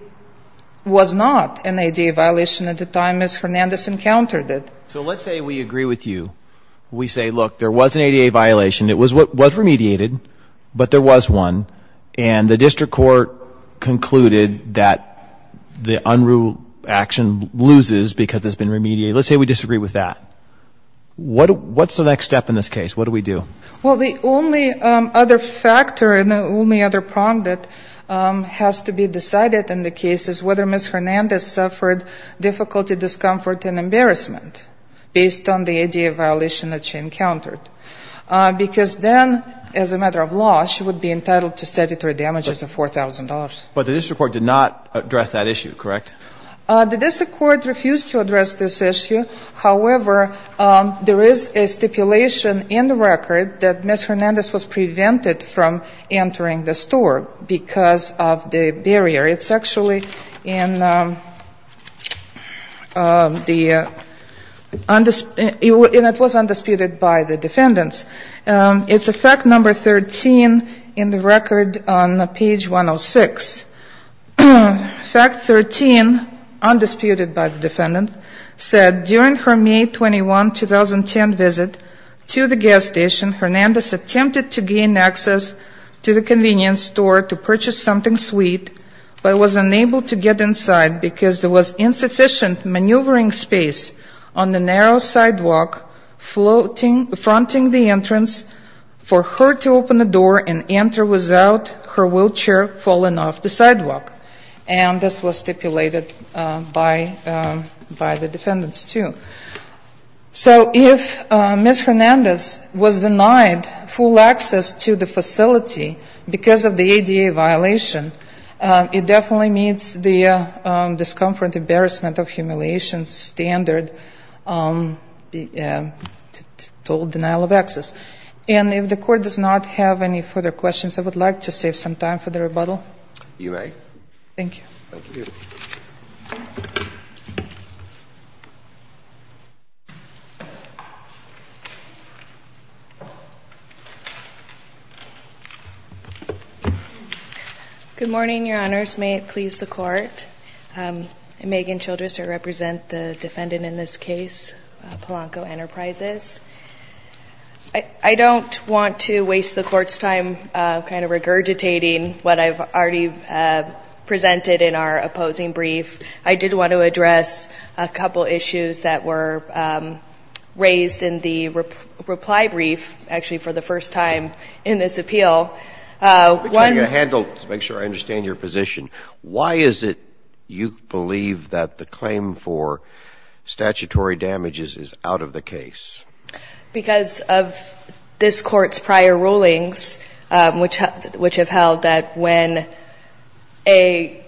was not an ADA violation at the time Ms. Hernandez encountered it. So let's say we agree with you. We say, look, there was an ADA violation. It was remediated, but there was one. And the district court concluded that the unruly action loses because there's been remediation. Let's say we disagree with that. What's the next step in this case? What do we do? Well, the only other factor and the only other prong that has to be decided in the case is whether Ms. Hernandez suffered difficulty, discomfort, and discrimination based on the ADA violation that she encountered. Because then, as a matter of law, she would be entitled to statutory damages of $4,000. But the district court did not address that issue, correct? The district court refused to address this issue. However, there is a stipulation in the record that Ms. Hernandez was prevented from entering the store because of the barrier. It's actually in the statute of limitations that states that Ms. Hernandez was prevented from entering the store because of the barrier. And it was undisputed by the defendants. It's a fact number 13 in the record on page 106. Fact 13, undisputed by the defendants, said during her May 21, 2010 visit to the gas station, Hernandez attempted to gain access to the convenience store to purchase something sweet, but was unable to get inside because there was insufficient maneuvering space on the next floor. She attempted to gain access to the convenience store by using a narrow sidewalk fronting the entrance for her to open the door and enter without her wheelchair falling off the sidewalk. And this was stipulated by the defendants, too. So if Ms. Hernandez was denied full access to the facility because of the ADA violation, it definitely meets the discomfort, embarrassment, or total denial of access. And if the Court does not have any further questions, I would like to save some time for the rebuttal. You may. Good morning, Your Honors. May it please the Court? Megan Childress, I represent the defendant in this case. I'm here to speak on behalf of Polanco Enterprises. I don't want to waste the Court's time kind of regurgitating what I've already presented in our opposing brief. I did want to address a couple issues that were raised in the reply brief, actually, for the first time in this appeal. One... I'm going to start with the first one, which is, is out of the case. Because of this Court's prior rulings, which have held that when a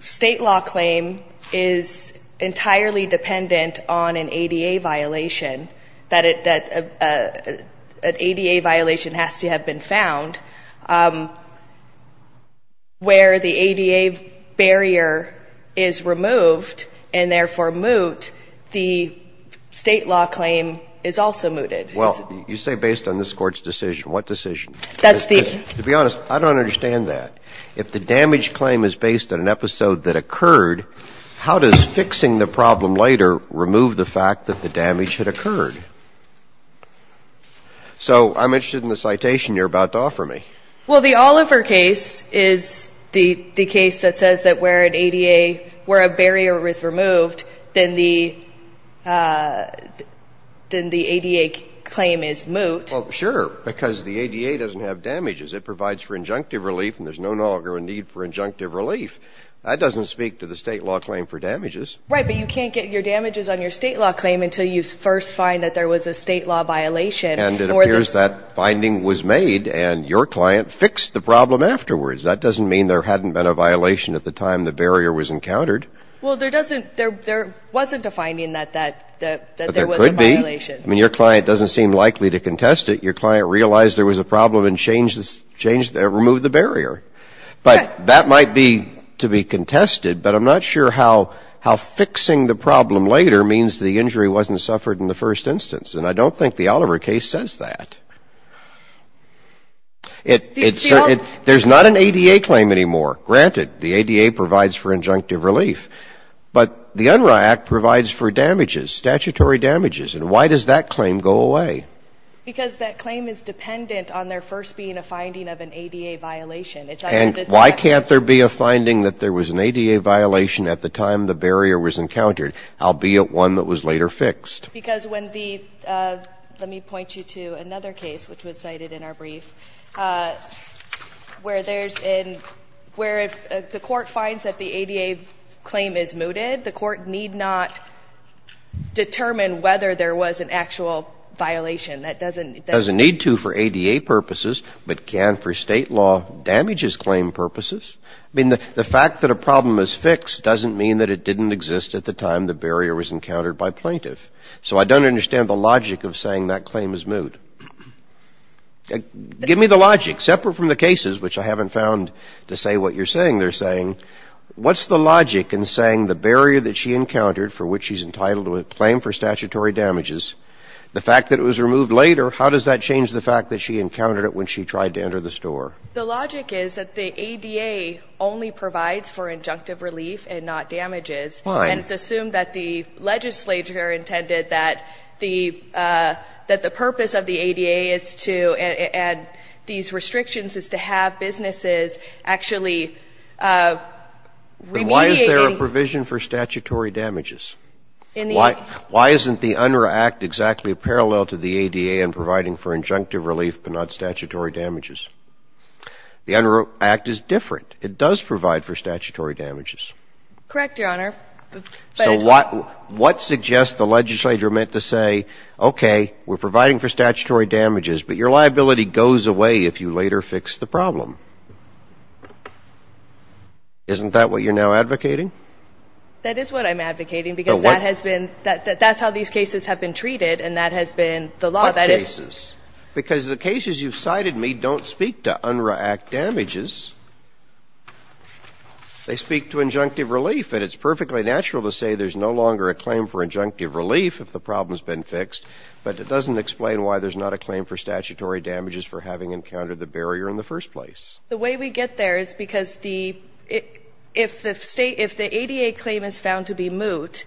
state law claim is entirely dependent on an ADA violation, that an ADA violation has to have been found, where the ADA barrier is removed, and therefore removed, the state law claim is also mooted. Well, you say based on this Court's decision. What decision? That's the... To be honest, I don't understand that. If the damage claim is based on an episode that occurred, how does fixing the problem later remove the fact that the damage had occurred? So, I'm interested in the citation you're about to offer me. Well, the Oliver case is the case that says that where an ADA, where a barrier is removed, the state law claim is also mooted. Then the ADA claim is moot. Well, sure, because the ADA doesn't have damages. It provides for injunctive relief, and there's no longer a need for injunctive relief. That doesn't speak to the state law claim for damages. Right, but you can't get your damages on your state law claim until you first find that there was a state law violation. And it appears that finding was made, and your client fixed the problem afterwards. That doesn't mean there hadn't been a violation at the time the barrier was encountered. Well, there doesn't, there wasn't a finding that there was a violation. But there could be. I mean, your client doesn't seem likely to contest it. Your client realized there was a problem and changed, removed the barrier. But that might be to be contested, but I'm not sure how fixing the problem later means the injury wasn't suffered in the first instance. And I don't think the Oliver case says that. It, it, there's not an ADA claim anymore. Granted, the ADA provides for injunctive relief, but the Unruh Act provides for damages, statutory damages. And why does that claim go away? Because that claim is dependent on there first being a finding of an ADA violation. And why can't there be a finding that there was an ADA violation at the time the barrier was encountered, albeit one that was later fixed? Because when the, let me point you to another case which was cited in our brief, where there's, where if the court finds that the ADA claim is mooted, the court need not determine whether there was an actual violation. That doesn't, that doesn't need to for ADA purposes, but can for State law damages claim purposes. I mean, the fact that a problem is fixed doesn't mean that it didn't exist at the time the barrier was encountered by plaintiff. So I don't understand the logic of saying that claim is moot. Give me the logic, separate from the cases, which I haven't found to say what you're saying they're saying. What's the logic in saying the barrier that she encountered, for which she's entitled to a claim for statutory damages, the fact that it was removed later, how does that change the fact that she encountered it when she tried to enter the store? The logic is that the ADA only provides for injunctive relief and not damages. And it's assumed that the legislature intended that the, that the purpose of the ADA is to, and these restrictions is to have businesses actually remediating. Then why is there a provision for statutory damages? Why isn't the UNRRA Act exactly parallel to the ADA in providing for injunctive relief but not statutory damages? The UNRRA Act is different. It does provide for statutory damages. Correct, Your Honor. So what, what suggests the legislature meant to say, okay, we're providing for statutory damages, but your liability goes away if you later fix the problem? Isn't that what you're now advocating? That is what I'm advocating because that has been, that's how these cases have been treated and that has been the law. What cases? Because the cases you've cited me don't speak to UNRRA Act damages. They speak to injunctive relief. And it's perfectly natural to say there's no longer a claim for injunctive relief if the problem's been fixed. But it doesn't explain why there's not a claim for statutory damages for having encountered the barrier in the first place. The way we get there is because the, if the state, if the ADA claim is found to be moot,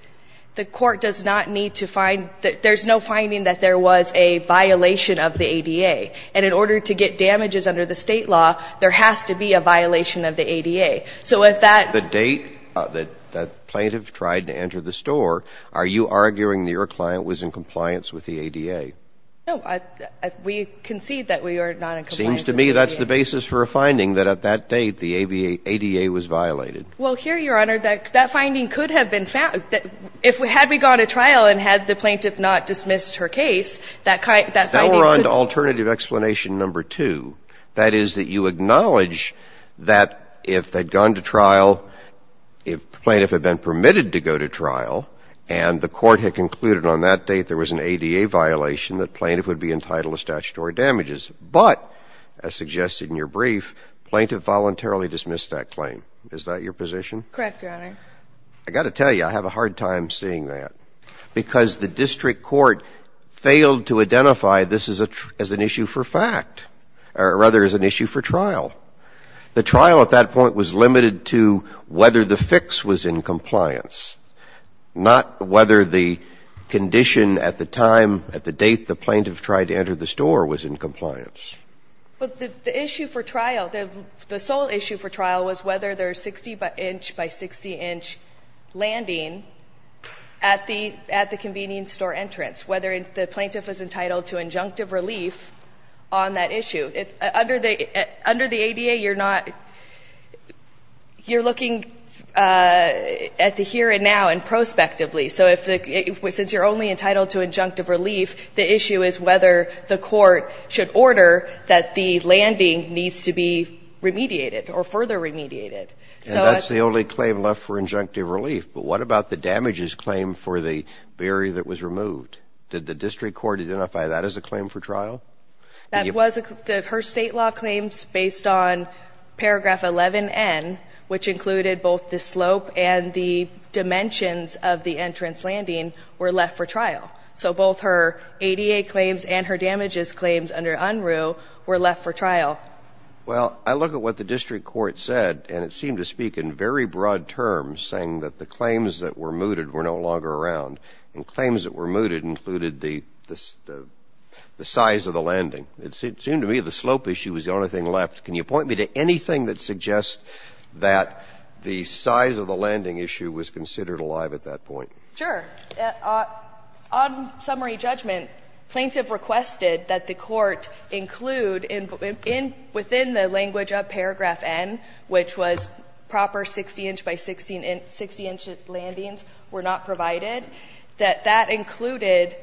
the court does not need to find, there's no finding that there was a violation of the ADA. And in order to get damages under the state law, there has to be a violation of the ADA. So if that. The date that, that plaintiff tried to enter the store, are you arguing that your client was in compliance with the ADA? No, I, we concede that we are not in compliance with the ADA. Seems to me that's the basis for a finding that at that date the ADA was violated. Well, here, Your Honor, that, that finding could have been found. If we, had we gone to trial and had the plaintiff not dismissed her case, that finding could. And alternative explanation number two. That is that you acknowledge that if they'd gone to trial, if the plaintiff had been permitted to go to trial, and the court had concluded on that date there was an ADA violation, that plaintiff would be entitled to statutory damages. But, as suggested in your brief, plaintiff voluntarily dismissed that claim. Is that your position? Correct, Your Honor. I got to tell you, I have a hard time seeing that. Because the district court failed to identify this as a, as an issue for fact. Or rather, as an issue for trial. The trial at that point was limited to whether the fix was in compliance. Not whether the condition at the time, at the date the plaintiff tried to enter the store was in compliance. But the issue for trial, the sole issue for trial was whether there's 60 inch by 60 inch landing at the convenience store entrance. Whether the plaintiff was entitled to injunctive relief on that issue. Under the ADA, you're not, you're looking at the here and now and prospectively. So if the, since you're only entitled to injunctive relief, the issue is whether the court should order that the landing needs to be remediated. Or further remediated. And that's the only claim left for injunctive relief. But what about the damages claim for the barrier that was removed? Did the district court identify that as a claim for trial? That was, her state law claims based on paragraph 11N. Which included both the slope and the dimensions of the entrance landing were left for trial. So both her ADA claims and her damages claims under UNRU were left for trial. Well, I look at what the district court said and it seemed to speak in very broad terms. Saying that the claims that were mooted were no longer around. And claims that were mooted included the size of the landing. It seemed to me the slope issue was the only thing left. Can you point me to anything that suggests that the size of the landing issue was considered alive at that point? Sure. On summary judgment, plaintiff requested that the court include within the language of paragraph N, which was proper 60 inch by 60 inch landings were not provided. That that included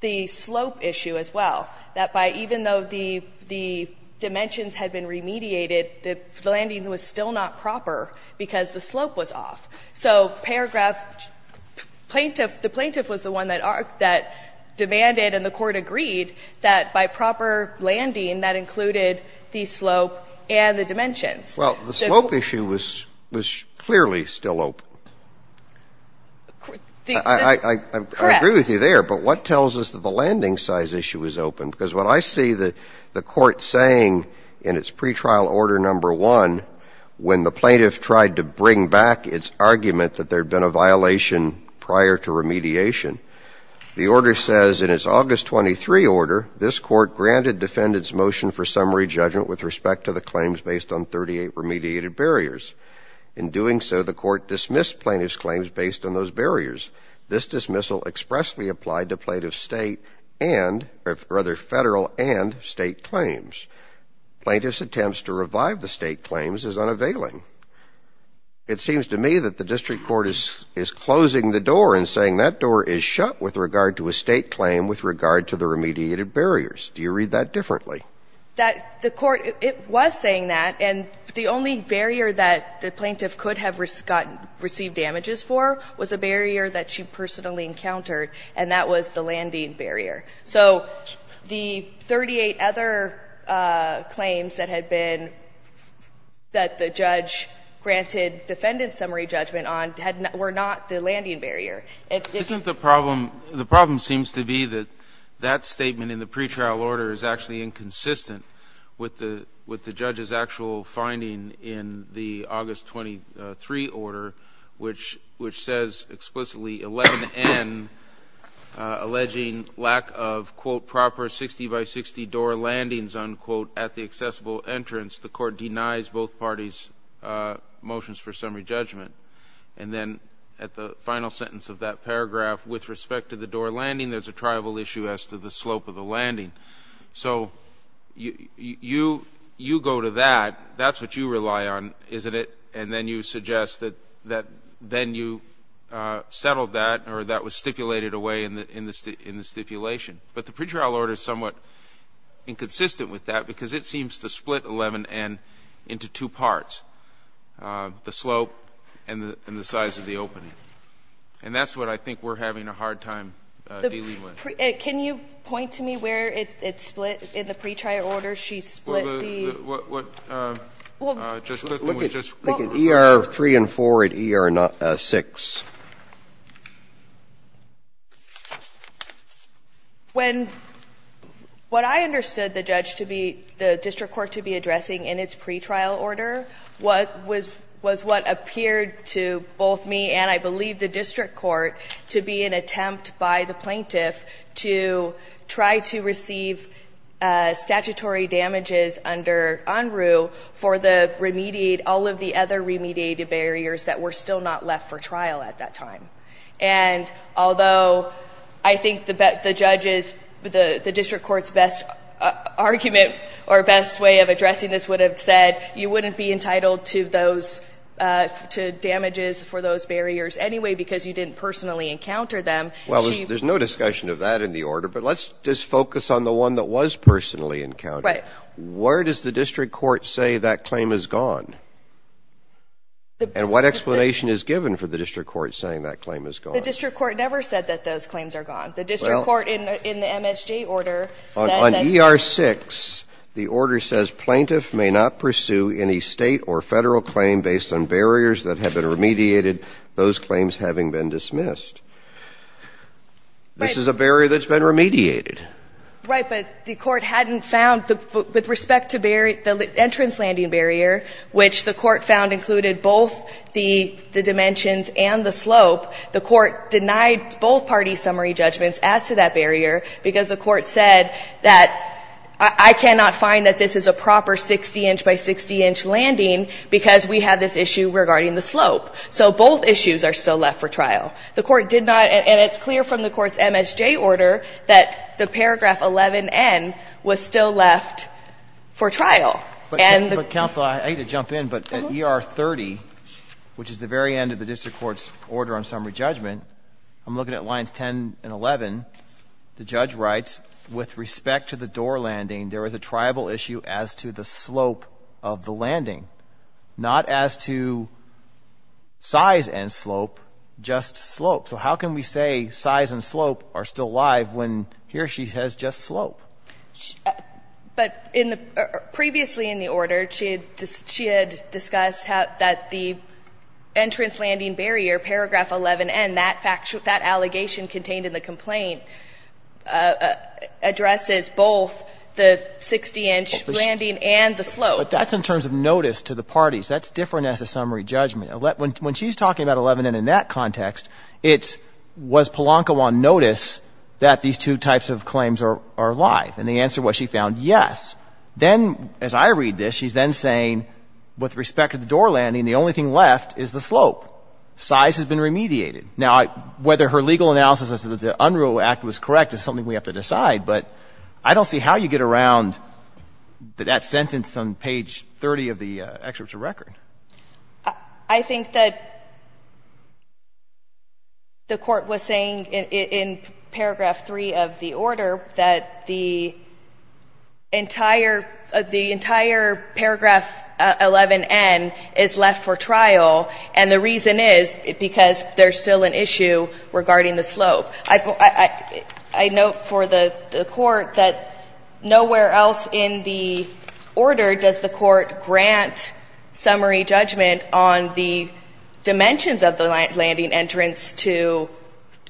the slope issue as well. That by even though the dimensions had been remediated, the landing was still not proper because the slope was off. So paragraph plaintiff, the plaintiff was the one that demanded and the court agreed that by proper landing that included the slope and the dimensions. Well, the slope issue was clearly still open. I agree with you there, but what tells us that the landing size issue was open? Because what I see the court saying in its pretrial order number one, when the plaintiff tried to bring back its argument that there had been a violation prior to remediation, the order says in its August 23 order, this court granted defendant's motion for summary judgment with respect to the claims based on 38 remediated barriers. In doing so, the court dismissed plaintiff's claims based on those barriers. This dismissal expressly applied to plaintiff's state and rather federal and state claims. Plaintiff's attempts to revive the state claims is unavailing. It seems to me that the district court is closing the door and saying that door is shut with regard to a state claim with regard to the remediated barriers. Do you read that differently? That the court, it was saying that. And the only barrier that the plaintiff could have received damages for was a barrier that she personally encountered, and that was the landing barrier. So the 38 other claims that had been, that the judge granted defendant summary judgment on were not the landing barrier. Isn't the problem, the problem seems to be that that statement in the pretrial order is actually inconsistent with the judge's actual finding in the August 23 order, which says explicitly 11N, alleging lack of, quote, proper 60 by 60 door landings, unquote, at the accessible entrance. The court denies both parties' motions for summary judgment. And then at the final sentence of that paragraph, with respect to the door landing, there's a tribal issue as to the slope of the landing. So you go to that. That's what you rely on, isn't it? And then you suggest that then you settled that or that was stipulated away in the stipulation. But the pretrial order is somewhat inconsistent with that because it seems to split 11N into two parts, the slope and the size of the opening. And that's what I think we're having a hard time dealing with. Can you point to me where it split in the pretrial order? She split the... Look at ER 3 and 4 and ER 6. When, what I understood the judge to be, the district court to be addressing in its pretrial order was what appeared to both me and I believe the district court to be an attempt by the plaintiff to try to receive statutory damages under UNRU for the remediate, all of the other remediated barriers that were still not left for trial at that time. And although I think the judges, the district court's best argument or best way of addressing this would have said you wouldn't be entitled to damages for those barriers anyway because you didn't personally encounter them. Well, there's no discussion of that in the order. But let's just focus on the one that was personally encountered. Where does the district court say that claim is gone? And what explanation is given for the district court saying that claim is gone? The district court never said that those claims are gone. The district court in the MSJ order said that... On ER 6, the order says plaintiff may not pursue any state or federal claim based on barriers that have been remediated, those claims having been dismissed. This is a barrier that's been remediated. Right, but the court hadn't found, with respect to the entrance landing barrier, which the court found included both the dimensions and the slope, the court denied both parties' summary judgments as to that barrier because the court said that I cannot find that this is a proper 60 inch by 60 inch landing because we have this issue regarding the slope. So both issues are still left for trial. The court did not, and it's clear from the court's MSJ order, that the paragraph 11N was still left for trial. But counsel, I hate to jump in, but ER 30, which is the very end of the district court's order on summary judgment, I'm looking at lines 10 and 11, the judge writes, with respect to the door landing, there is a tribal issue as to the slope of the landing, not as to size and slope, just slope. So how can we say size and slope are still alive when here she says just slope? But previously in the order, she had discussed that the entrance landing barrier, paragraph 11N, that allegation contained in the complaint addresses both the 60 inch landing and the slope. But that's in terms of notice to the parties. That's different as a summary judgment. When she's talking about 11N in that context, it's was Polanco on notice that these two types of claims are alive? And the answer was she found yes. Then, as I read this, she's then saying with respect to the door landing, the only thing left is the slope. Size has been remediated. Now, whether her legal analysis is that the Unruh Act was correct is something we have to decide. But I don't see how you get around that sentence on page 30 of the excerpt to record. I think that the court was saying in paragraph 3 of the order that the entire paragraph 11N is left for trial. And the reason is because there's still an issue regarding the slope. I note for the court that nowhere else in the order does the court grant summary judgment on the dimensions of the landing entrance to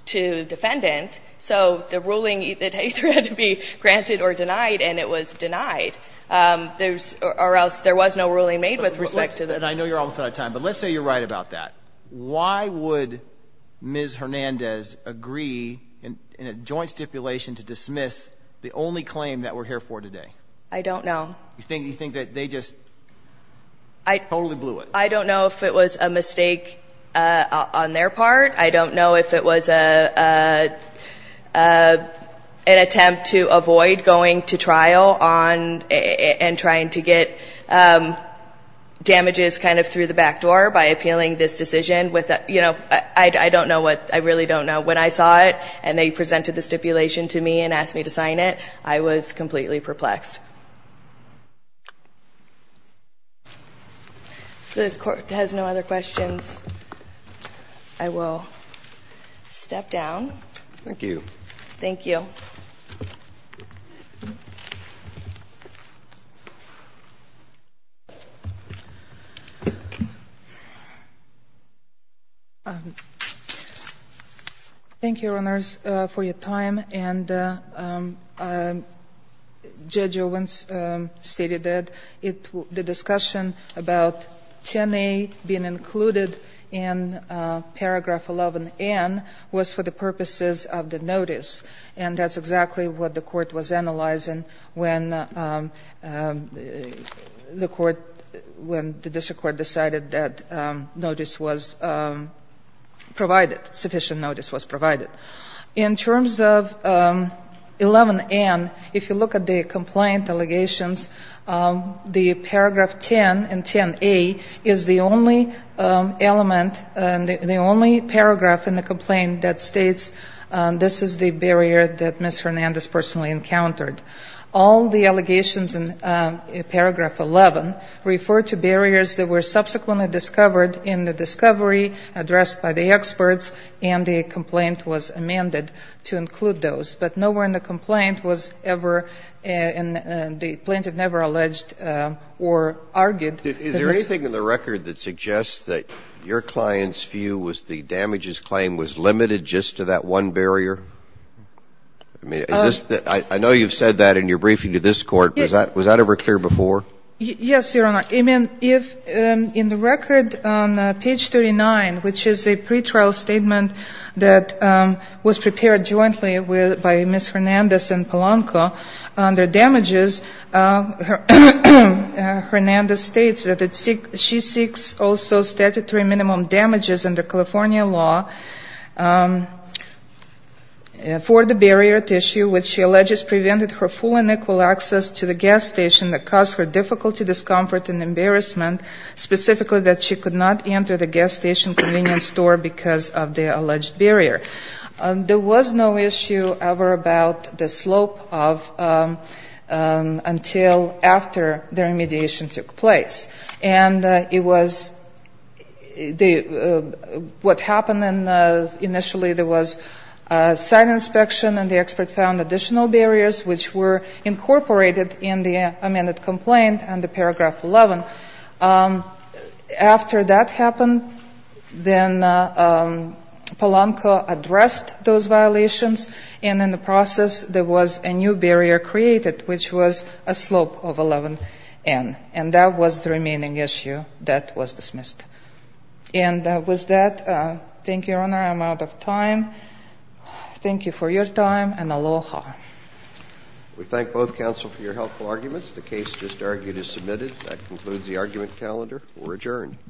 defendant. So the ruling either had to be granted or denied, and it was denied. There was no ruling made with respect to that. And I know you're almost out of time, but let's say you're right about that. Why would Ms. Hernandez agree in a joint stipulation to dismiss the only claim that we're here for today? I don't know. You think that they just totally blew it? I don't know if it was a mistake on their part. I don't know if it was an attempt to avoid going to trial and trying to get damages kind of through the back door by appealing this decision. I really don't know. When I saw it and they presented the stipulation to me and asked me to sign it, I was completely perplexed. If the court has no other questions, I will step down. Thank you. Thank you. Thank you, Your Honors, for your time. And Judge Owens stated that the discussion about 10A being included in paragraph 11N was for the purposes of the notice. And that's exactly what the court was analyzing when the court, when the district court decided that notice was provided, sufficient notice was provided. In terms of 11N, if you look at the complaint allegations, the paragraph 10 in 10A is the only element, the only paragraph in the complaint that states this is the barrier that Ms. Hernandez personally encountered. All the allegations in paragraph 11 refer to barriers that were subsequently discovered in the discovery addressed by the experts and the complaint was amended to include those. But nowhere in the complaint was ever, the plaintiff never alleged or argued. Is there anything in the record that suggests that your client's view was the damages claim was limited just to that one barrier? I mean, is this, I know you've said that in your briefing to this court. Was that ever clear before? Yes, Your Honor. I mean, if in the record on page 39, which is a pretrial statement that was prepared jointly by Ms. Hernandez and Polanco under damages, Hernandez states that she seeks also statutory minimum damages under California law for the barrier tissue which she alleges prevented her full and equal access to the gas station that caused her difficulty, discomfort and embarrassment, specifically that she could not enter the gas station convenience store because of the alleged barrier. There was no issue ever about the slope of, until after the remediation took place. And it was, what happened initially, there was a site inspection and the expert found additional barriers which were incorporated in the amended complaint under paragraph 11. After that happened, then Polanco addressed those violations and in the process, there was a new barrier created which was a slope of 11n. And that was the remaining issue that was dismissed. And with that, thank you, Your Honor. I'm out of time. Thank you for your time and aloha. We thank both counsel for your helpful arguments. The case just argued is submitted. That concludes the argument calendar. We're adjourned.